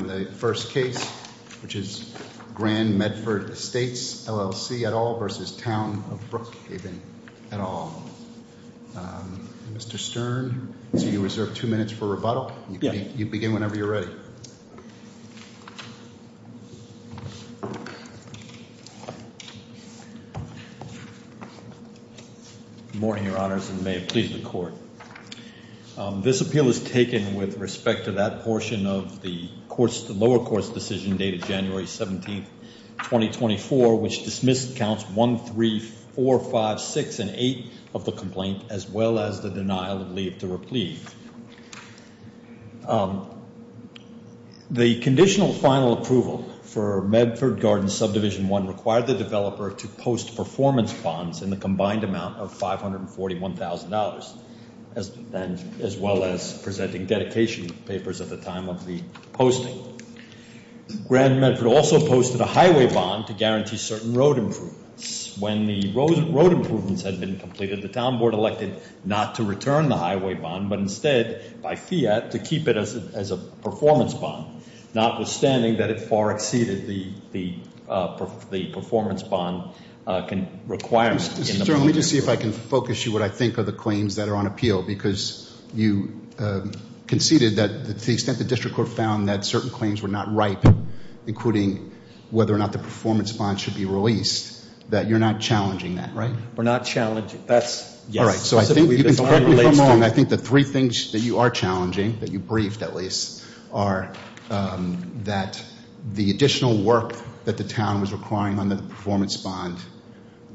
Good morning Your Honors and may it please the Court. This appeal is taken with respect to that portion of the lower court's decision dated January 17, 2024, which dismissed counts 1, 3, 4, 5, 6, and 8 of the complaint, as well as the denial of leave to repleave. The conditional final approval for Medford Gardens Subdivision 1 required the developer to post performance bonds in the combined amount of $541,000, as well as presenting dedication papers at the time of the posting. Also, Grand Medford also posted a highway bond to guarantee certain road improvements. When the road improvements had been completed, the town board elected not to return the highway bond, but instead, by fiat, to keep it as a performance bond. Notwithstanding that it far exceeded the performance bond requirements. Let me just see if I can focus you on what I think are the claims that are on appeal, because you conceded that to the extent the district court found that certain claims were not ripe, including whether or not the performance bond should be released, that you're not challenging that, right? We're not challenging it. All right, so I think you can correct me if I'm wrong. I think the three things that you are challenging, that you briefed at least, are that the additional work that the town was requiring under the performance bond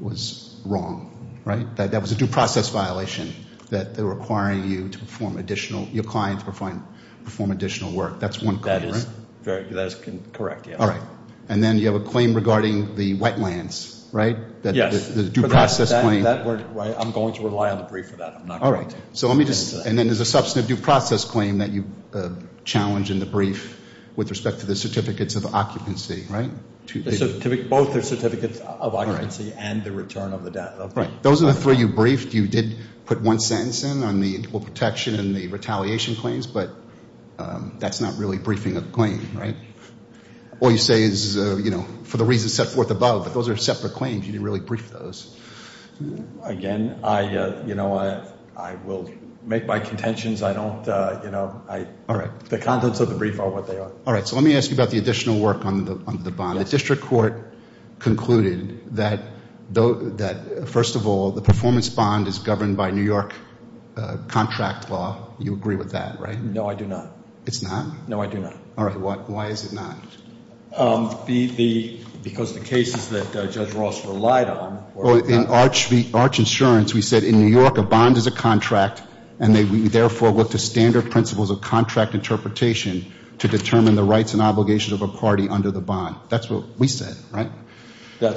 was wrong, right? That that was a due process violation, that they're requiring you to perform additional, your clients perform additional work. That's one claim, right? That is correct, yeah. All right. And then you have a claim regarding the wetlands, right? Yes. The due process claim. I'm going to rely on the brief for that. All right. So let me just, and then there's a substantive due process claim that you challenge in the brief with respect to the certificates of occupancy, right? Both the certificates of occupancy and the return of the debt. Right. Those are the three you briefed. You did put one sentence in on the protection and the retaliation claims, but that's not really briefing a claim, right? All you say is, you know, for the reasons set forth above, but those are separate claims. You didn't really brief those. Again, I, you know, I will make my contentions. I don't, you know, the contents of the brief are what they are. All right. So let me ask you about the additional work on the bond. The district court concluded that, first of all, the performance bond is governed by New York contract law. You agree with that, right? No, I do not. It's not? No, I do not. All right. Why is it not? The, because the cases that Judge Ross relied on. In Arch Insurance, we said, in New York, a bond is a contract, and we therefore look to standard principles of contract interpretation to determine the rights and obligations of a party under the bond. That's what we said, right? That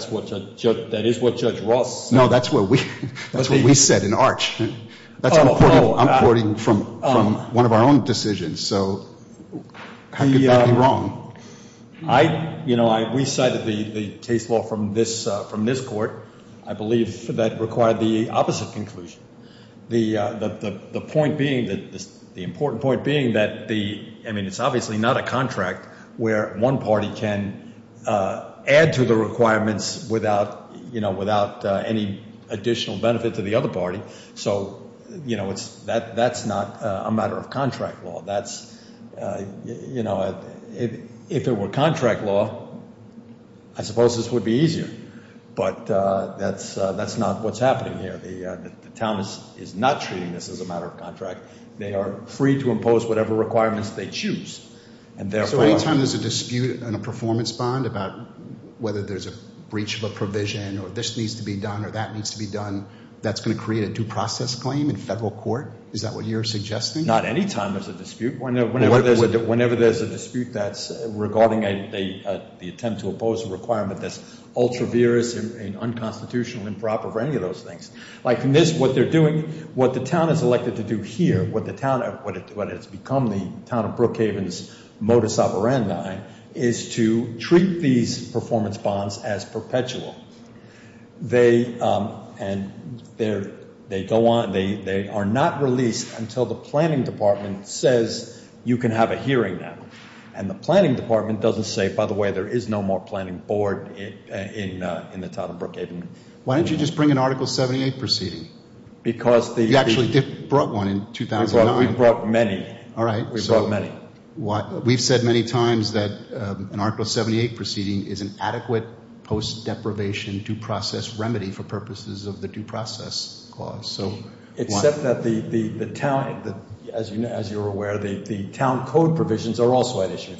is what Judge Ross said. No, that's what we said in Arch. That's what I'm quoting from one of our own decisions. So how could that be wrong? I, you know, I, we cited the case law from this court. I believe that required the opposite conclusion. The point being, the important point being that the, I mean, it's obviously not a contract where one party can add to the requirements without, you know, without any additional benefit to the other party. So, you know, it's, that's not a matter of contract law. That's, you know, if it were contract law, I suppose this would be easier. But that's, that's not what's happening here. The town is not treating this as a matter of contract. They are free to impose whatever requirements they choose. So any time there's a dispute in a performance bond about whether there's a breach of a provision or this needs to be done or that needs to be done, that's going to create a due process claim in federal court? Is that what you're suggesting? Not any time there's a dispute. Whenever there's a dispute that's regarding the attempt to impose a requirement that's ultra-virus and unconstitutional, improper for any of those things. Like in this, what they're doing, what the town is elected to do here, what the town, what has become the town of Brookhaven's modus operandi, is to treat these performance bonds as perpetual. They, and they're, they go on, they are not released until the planning department says you can have a hearing now. And the planning department doesn't say, by the way, there is no more planning board in the town of Brookhaven. Why don't you just bring an Article 78 proceeding? Because the. You actually brought one in 2009. We brought many. All right. We brought many. We've said many times that an Article 78 proceeding is an adequate post-deprivation due process remedy for purposes of the due process clause. Except that the town, as you're aware, the town code provisions are also at issue.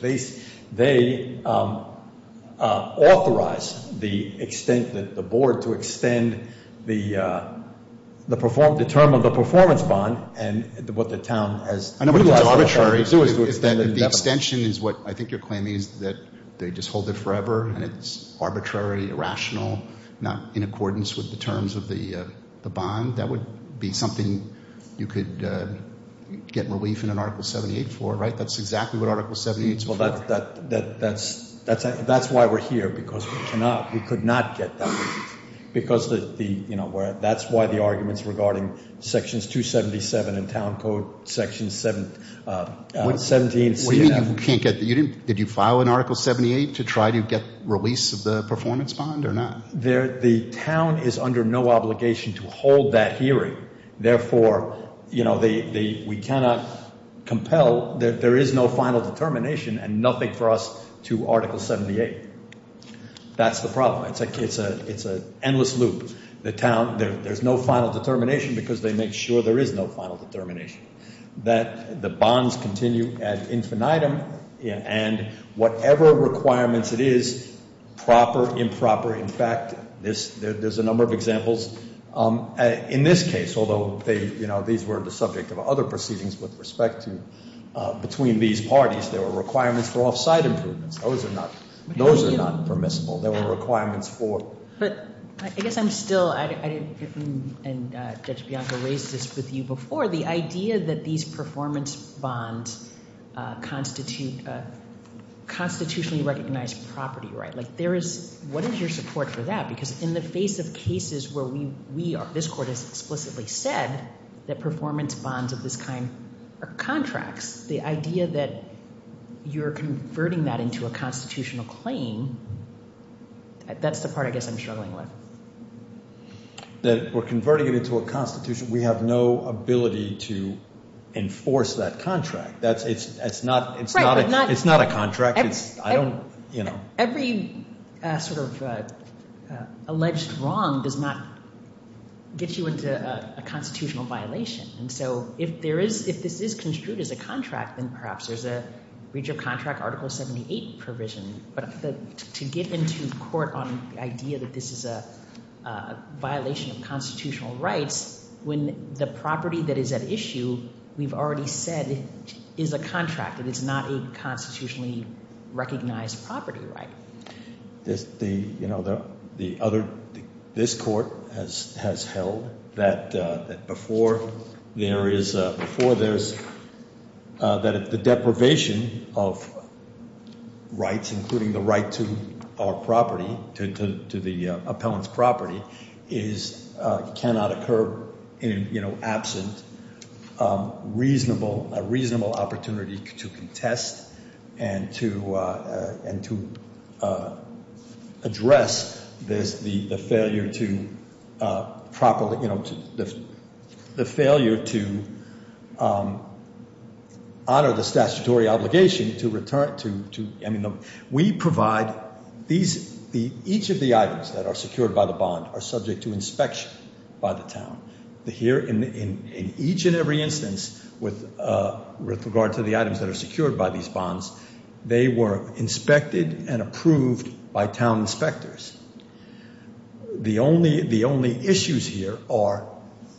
They authorize the extent that the board to extend the term of the performance bond and what the town has. I know it's arbitrary. The extension is what I think you're claiming is that they just hold it forever and it's arbitrary, irrational, not in accordance with the terms of the bond. That would be something you could get relief in an Article 78 for, right? That's exactly what Article 78 is for. That's why we're here, because we cannot, we could not get that relief. Because that's why the arguments regarding Sections 277 and town code Section 17. Did you file an Article 78 to try to get release of the performance bond or not? The town is under no obligation to hold that hearing. Therefore, we cannot compel, there is no final determination and nothing for us to Article 78. That's the problem. It's an endless loop. There's no final determination because they make sure there is no final determination. That the bonds continue at infinitum and whatever requirements it is, proper, improper. In fact, there's a number of examples. In this case, although these were the subject of other proceedings with respect to between these parties, there were requirements for off-site improvements. Those are not permissible. There were requirements for. But I guess I'm still, and Judge Bianco raised this with you before, the idea that these performance bonds constitute constitutionally recognized property, right? What is your support for that? Because in the face of cases where this court has explicitly said that performance bonds of this kind are contracts, the idea that you're converting that into a constitutional claim, that's the part I guess I'm struggling with. That we're converting it into a constitution. We have no ability to enforce that contract. It's not a contract. Every sort of alleged wrong does not get you into a constitutional violation. And so if there is, if this is construed as a contract, then perhaps there's a breach of contract Article 78 provision. But to get into court on the idea that this is a violation of constitutional rights, when the property that is at issue, we've already said, is a contract. It is not a constitutionally recognized property, right? This court has held that before there is, that if the deprivation of rights, including the right to our property, to the appellant's property, cannot occur in absent a reasonable opportunity to contest and to address this, the failure to properly, you know, the failure to honor the statutory obligation to return to, I mean, we provide these, each of the items that are secured by the bond are subject to inspection by the town. Here, in each and every instance, with regard to the items that are secured by these bonds, they were inspected and approved by town inspectors. The only issues here are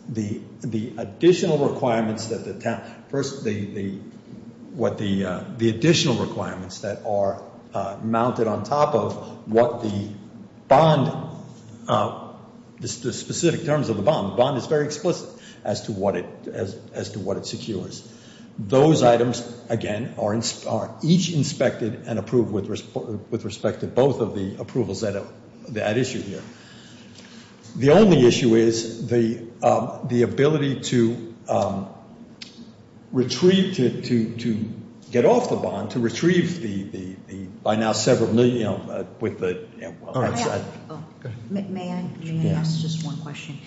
the additional requirements that the town, first, the additional requirements that are mounted on top of what the bond, the specific terms of the bond. The bond is very explicit as to what it secures. Those items, again, are each inspected and approved with respect to both of the approvals that issue here. The only issue is the ability to retrieve, to get off the bond, to retrieve the, by now, several million, you know, with the. May I ask just one question?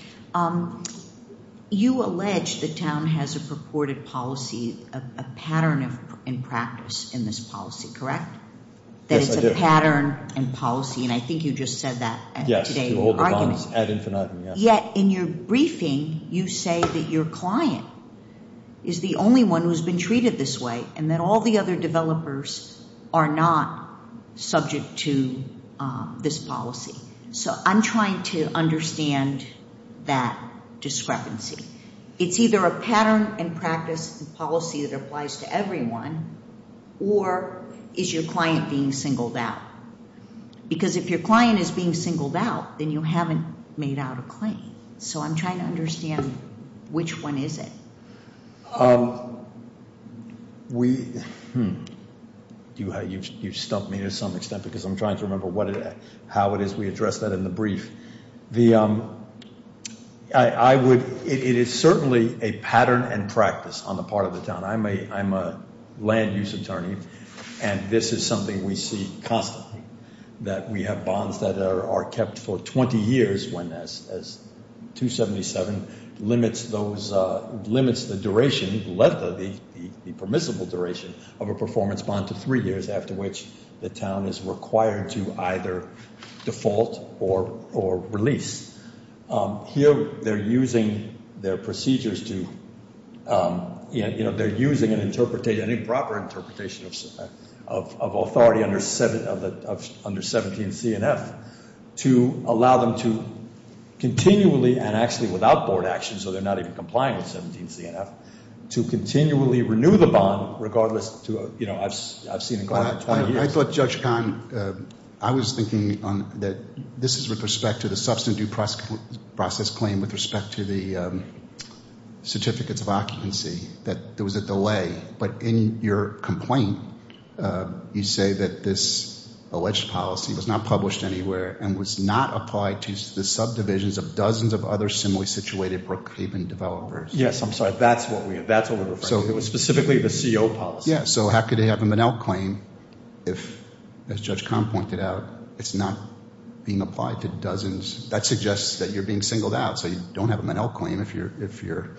You allege the town has a purported policy, a pattern in practice in this policy, correct? Yes, I do. That it's a pattern and policy, and I think you just said that today in your argument. Yes, to hold the bonds ad infinitum, yes. Yet in your briefing, you say that your client is the only one who's been treated this way and that all the other developers are not subject to this policy. So I'm trying to understand that discrepancy. It's either a pattern in practice and policy that applies to everyone, or is your client being singled out? Because if your client is being singled out, then you haven't made out a claim. So I'm trying to understand, which one is it? You've stumped me to some extent because I'm trying to remember how it is we address that in the brief. It is certainly a pattern and practice on the part of the town. I'm a land use attorney, and this is something we see constantly, that we have bonds that are kept for 20 years when 277 limits the duration, the permissible duration of a performance bond to three years after which the town is required to either default or release. Here, they're using their procedures to, you know, they're using an improper interpretation of authority under 17CNF to allow them to continually, and actually without board action, so they're not even complying with 17CNF, to continually renew the bond regardless to, you know, I've seen it going on for 20 years. I thought, Judge Kahn, I was thinking that this is with respect to the substantive due process claim with respect to the certificates of occupancy, that there was a delay. But in your complaint, you say that this alleged policy was not published anywhere and was not applied to the subdivisions of dozens of other similarly situated Brookhaven developers. Yes, I'm sorry. That's what we're referring to. So it was specifically the CO policy. Yes, so how could they have a Monell claim if, as Judge Kahn pointed out, it's not being applied to dozens? That suggests that you're being singled out, so you don't have a Monell claim if you're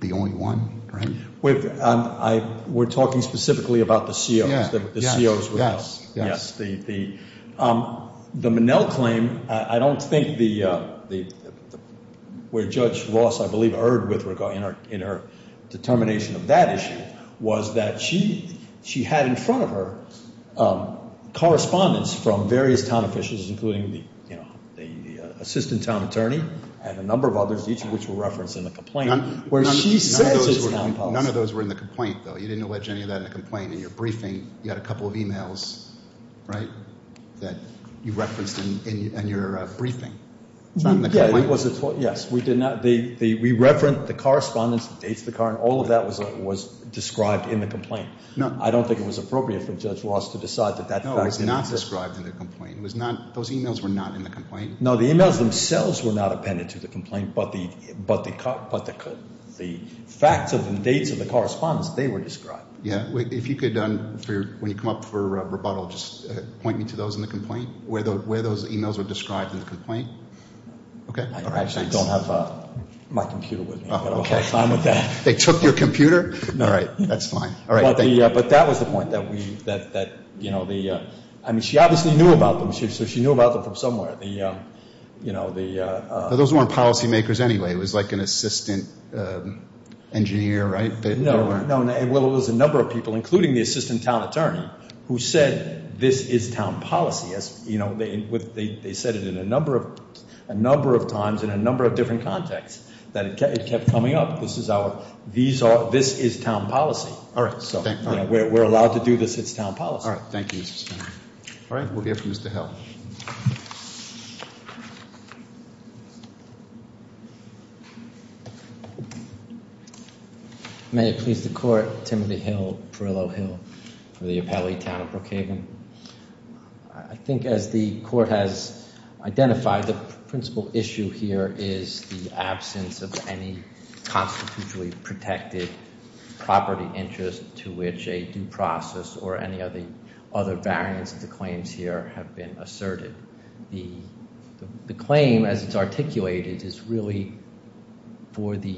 the only one, right? We're talking specifically about the COs, the COs. Yes, yes, yes. The Monell claim, I don't think where Judge Ross, I believe, erred in her determination of that issue was that she had in front of her correspondence from various town officials, including the assistant town attorney and a number of others, each of which were referenced in the complaint, where she says it's not published. None of those were in the complaint, though. You didn't allege any of that in the complaint. In your briefing, you had a couple of e-mails, right, that you referenced in your briefing. It's not in the complaint. Yes, we did not. We referenced the correspondence, the dates of the car, and all of that was described in the complaint. I don't think it was appropriate for Judge Ross to decide that that fact didn't exist. No, it was not described in the complaint. It was not, those e-mails were not in the complaint. No, the e-mails themselves were not appended to the complaint, but the facts of the dates of the correspondence, they were described. Yeah, if you could, when you come up for rebuttal, just point me to those in the complaint, where those e-mails were described in the complaint. I actually don't have my computer with me. I don't have time for that. They took your computer? No. All right, that's fine. But that was the point, that, you know, she obviously knew about them. She knew about them from somewhere. Those weren't policymakers anyway. It was like an assistant engineer, right? No, it was a number of people, including the assistant town attorney, who said this is town policy. They said it a number of times in a number of different contexts, that it kept coming up. This is our, this is town policy. We're allowed to do this. It's town policy. All right, thank you, Mr. Steiner. All right, we'll hear from Mr. Hill. May it please the court, Timothy Hill, Perillo Hill, for the appellee, Town of Brookhaven. I think as the court has identified, the principal issue here is the absence of any constitutionally protected property interest to which a due process or any of the other variants of the claims here have been asserted. The claim, as it's articulated, is really for the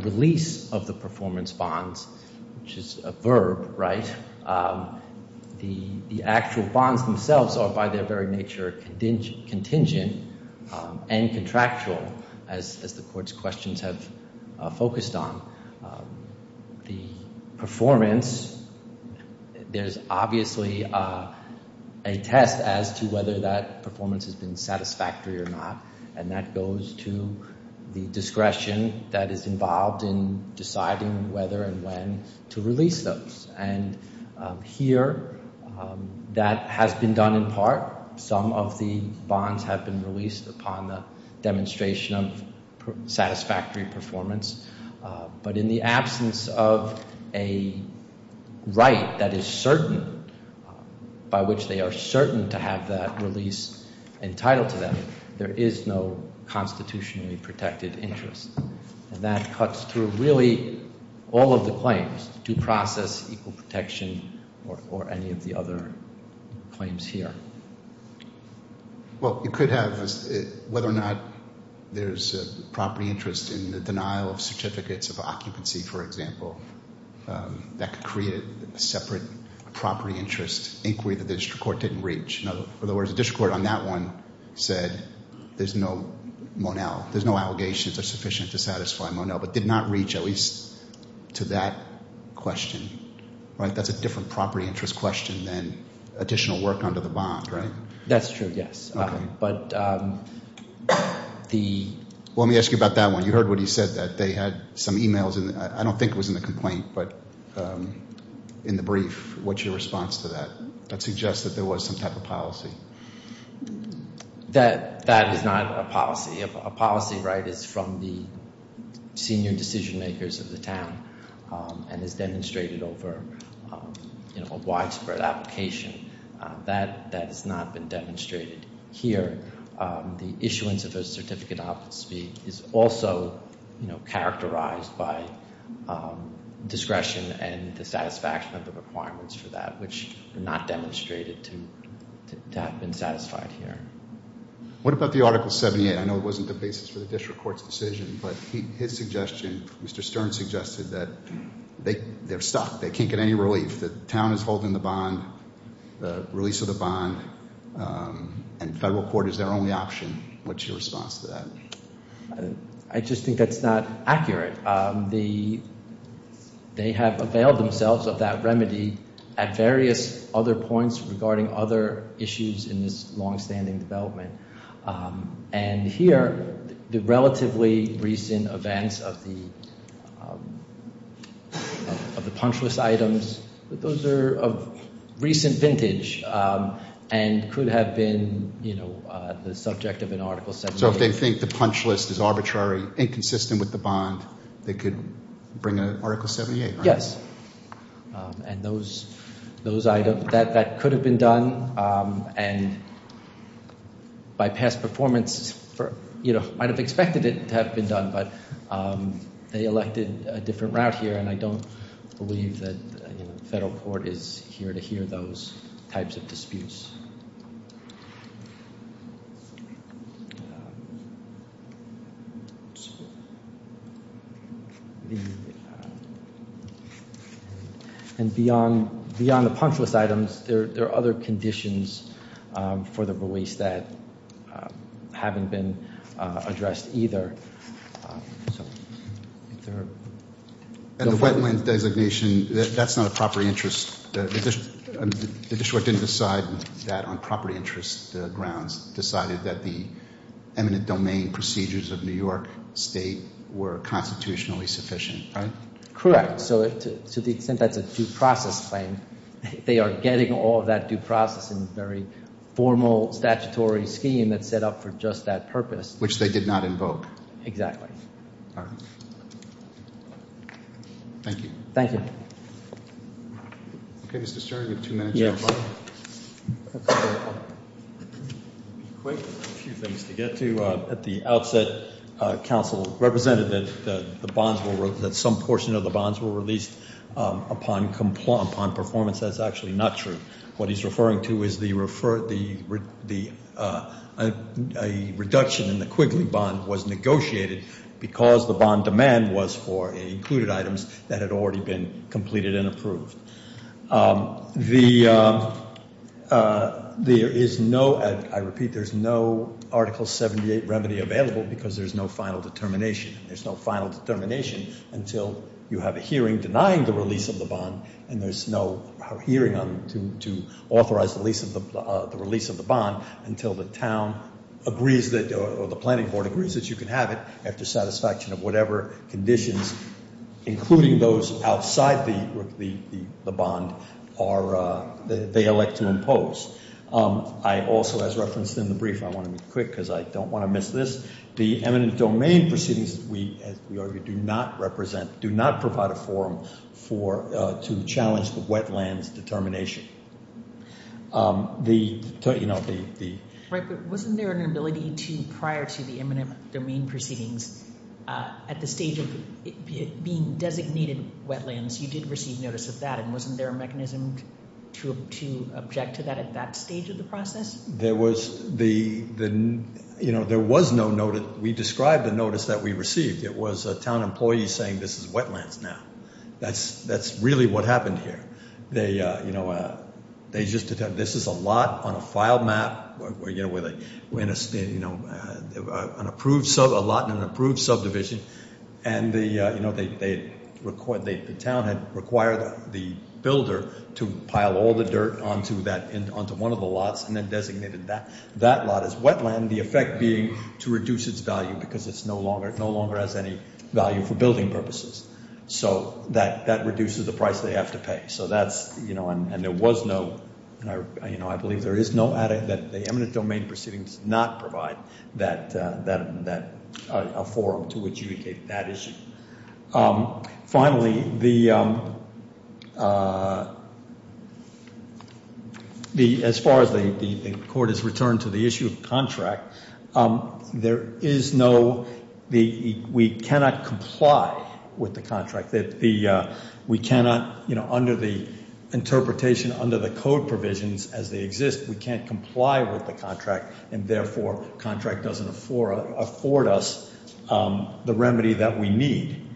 release of the performance bonds, which is a verb, right? The actual bonds themselves are by their very nature contingent and contractual, as the court's questions have focused on. The performance, there's obviously a test as to whether that performance has been satisfactory or not, and that goes to the discretion that is involved in deciding whether and when to release those. And here, that has been done in part. Some of the bonds have been released upon the demonstration of satisfactory performance. But in the absence of a right that is certain, by which they are certain to have that release entitled to them, there is no constitutionally protected interest. And that cuts through really all of the claims, due process, equal protection, or any of the other claims here. Well, you could have whether or not there's a property interest in the denial of certificates of occupancy, for example. That could create a separate property interest inquiry that the district court didn't reach. In other words, the district court on that one said there's no Monell. There's no allegations that are sufficient to satisfy Monell, but did not reach at least to that question, right? That's a different property interest question than additional work under the bond, right? That's true, yes. Okay. But the— Well, let me ask you about that one. You heard what he said, that they had some e-mails. I don't think it was in the complaint, but in the brief, what's your response to that? That suggests that there was some type of policy. That is not a policy. A policy, right, is from the senior decision makers of the town and is demonstrated over a widespread application. That has not been demonstrated here. The issuance of a certificate of occupancy is also characterized by discretion and the satisfaction of the requirements for that, which are not demonstrated to have been satisfied here. What about the Article 78? I know it wasn't the basis for the district court's decision, but his suggestion, Mr. Stern suggested that they're stuck. They can't get any relief. The town is holding the bond, the release of the bond, and federal court is their only option. What's your response to that? I just think that's not accurate. They have availed themselves of that remedy at various other points regarding other issues in this longstanding development. And here, the relatively recent events of the punch list items, those are of recent vintage and could have been the subject of an Article 78. So if they think the punch list is arbitrary, inconsistent with the bond, they could bring an Article 78, right? Yes. And those items, that could have been done, and by past performance, might have expected it to have been done, but they elected a different route here, and I don't believe that the federal court is here to hear those types of disputes. And beyond the punch list items, there are other conditions for the release that haven't been addressed either. And the wetland designation, that's not a property interest. The district court didn't decide that on property interest grounds. It decided that the eminent domain procedures of New York State were constitutionally sufficient, right? Correct. So to the extent that's a due process claim, they are getting all of that due process in a very formal statutory scheme that's set up for just that purpose. Which they did not invoke. Exactly. All right. Thank you. Thank you. Okay, Mr. Sterling, we have two minutes left. A few things to get to. At the outset, counsel represented that some portion of the bonds were released upon performance. That's actually not true. What he's referring to is the reduction in the Quigley bond was negotiated because the bond demand was for included items that had already been completed and approved. There is no, I repeat, there's no Article 78 remedy available because there's no final determination. There's no final determination until you have a hearing denying the release of the bond. And there's no hearing to authorize the release of the bond until the town agrees or the planning board agrees that you can have it after satisfaction of whatever conditions, including those outside the bond, they elect to impose. I also, as referenced in the brief, I want to be quick because I don't want to miss this. The eminent domain proceedings, as we argued, do not represent, do not provide a forum to challenge the wetlands determination. Wasn't there an ability to, prior to the eminent domain proceedings, at the stage of being designated wetlands, you did receive notice of that. And wasn't there a mechanism to object to that at that stage of the process? There was no notice. We described the notice that we received. It was a town employee saying this is wetlands now. That's really what happened here. They just, this is a lot on a file map, an approved lot in an approved subdivision. And the town had required the builder to pile all the dirt onto one of the lots and then designated that lot as wetland, the effect being to reduce its value because it no longer has any value for building purposes. So that reduces the price they have to pay. So that's, you know, and there was no, you know, I believe there is no, that the eminent domain proceedings not provide that, a forum to adjudicate that issue. Finally, the, as far as the court has returned to the issue of contract, there is no, we cannot comply with the contract. We cannot, you know, under the interpretation, under the code provisions as they exist, we can't comply with the contract. And therefore, contract doesn't afford us the remedy that we need.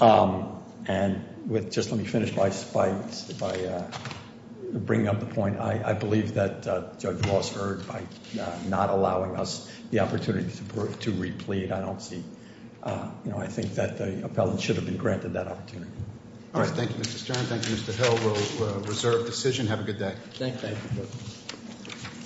And with, just let me finish by bringing up the point. I believe that Judge Ross heard by not allowing us the opportunity to replead. I don't see, you know, I think that the appellant should have been granted that opportunity. All right, thank you Mr. Stern. Thank you Mr. Hill. We'll reserve decision. Have a good day. Thank you.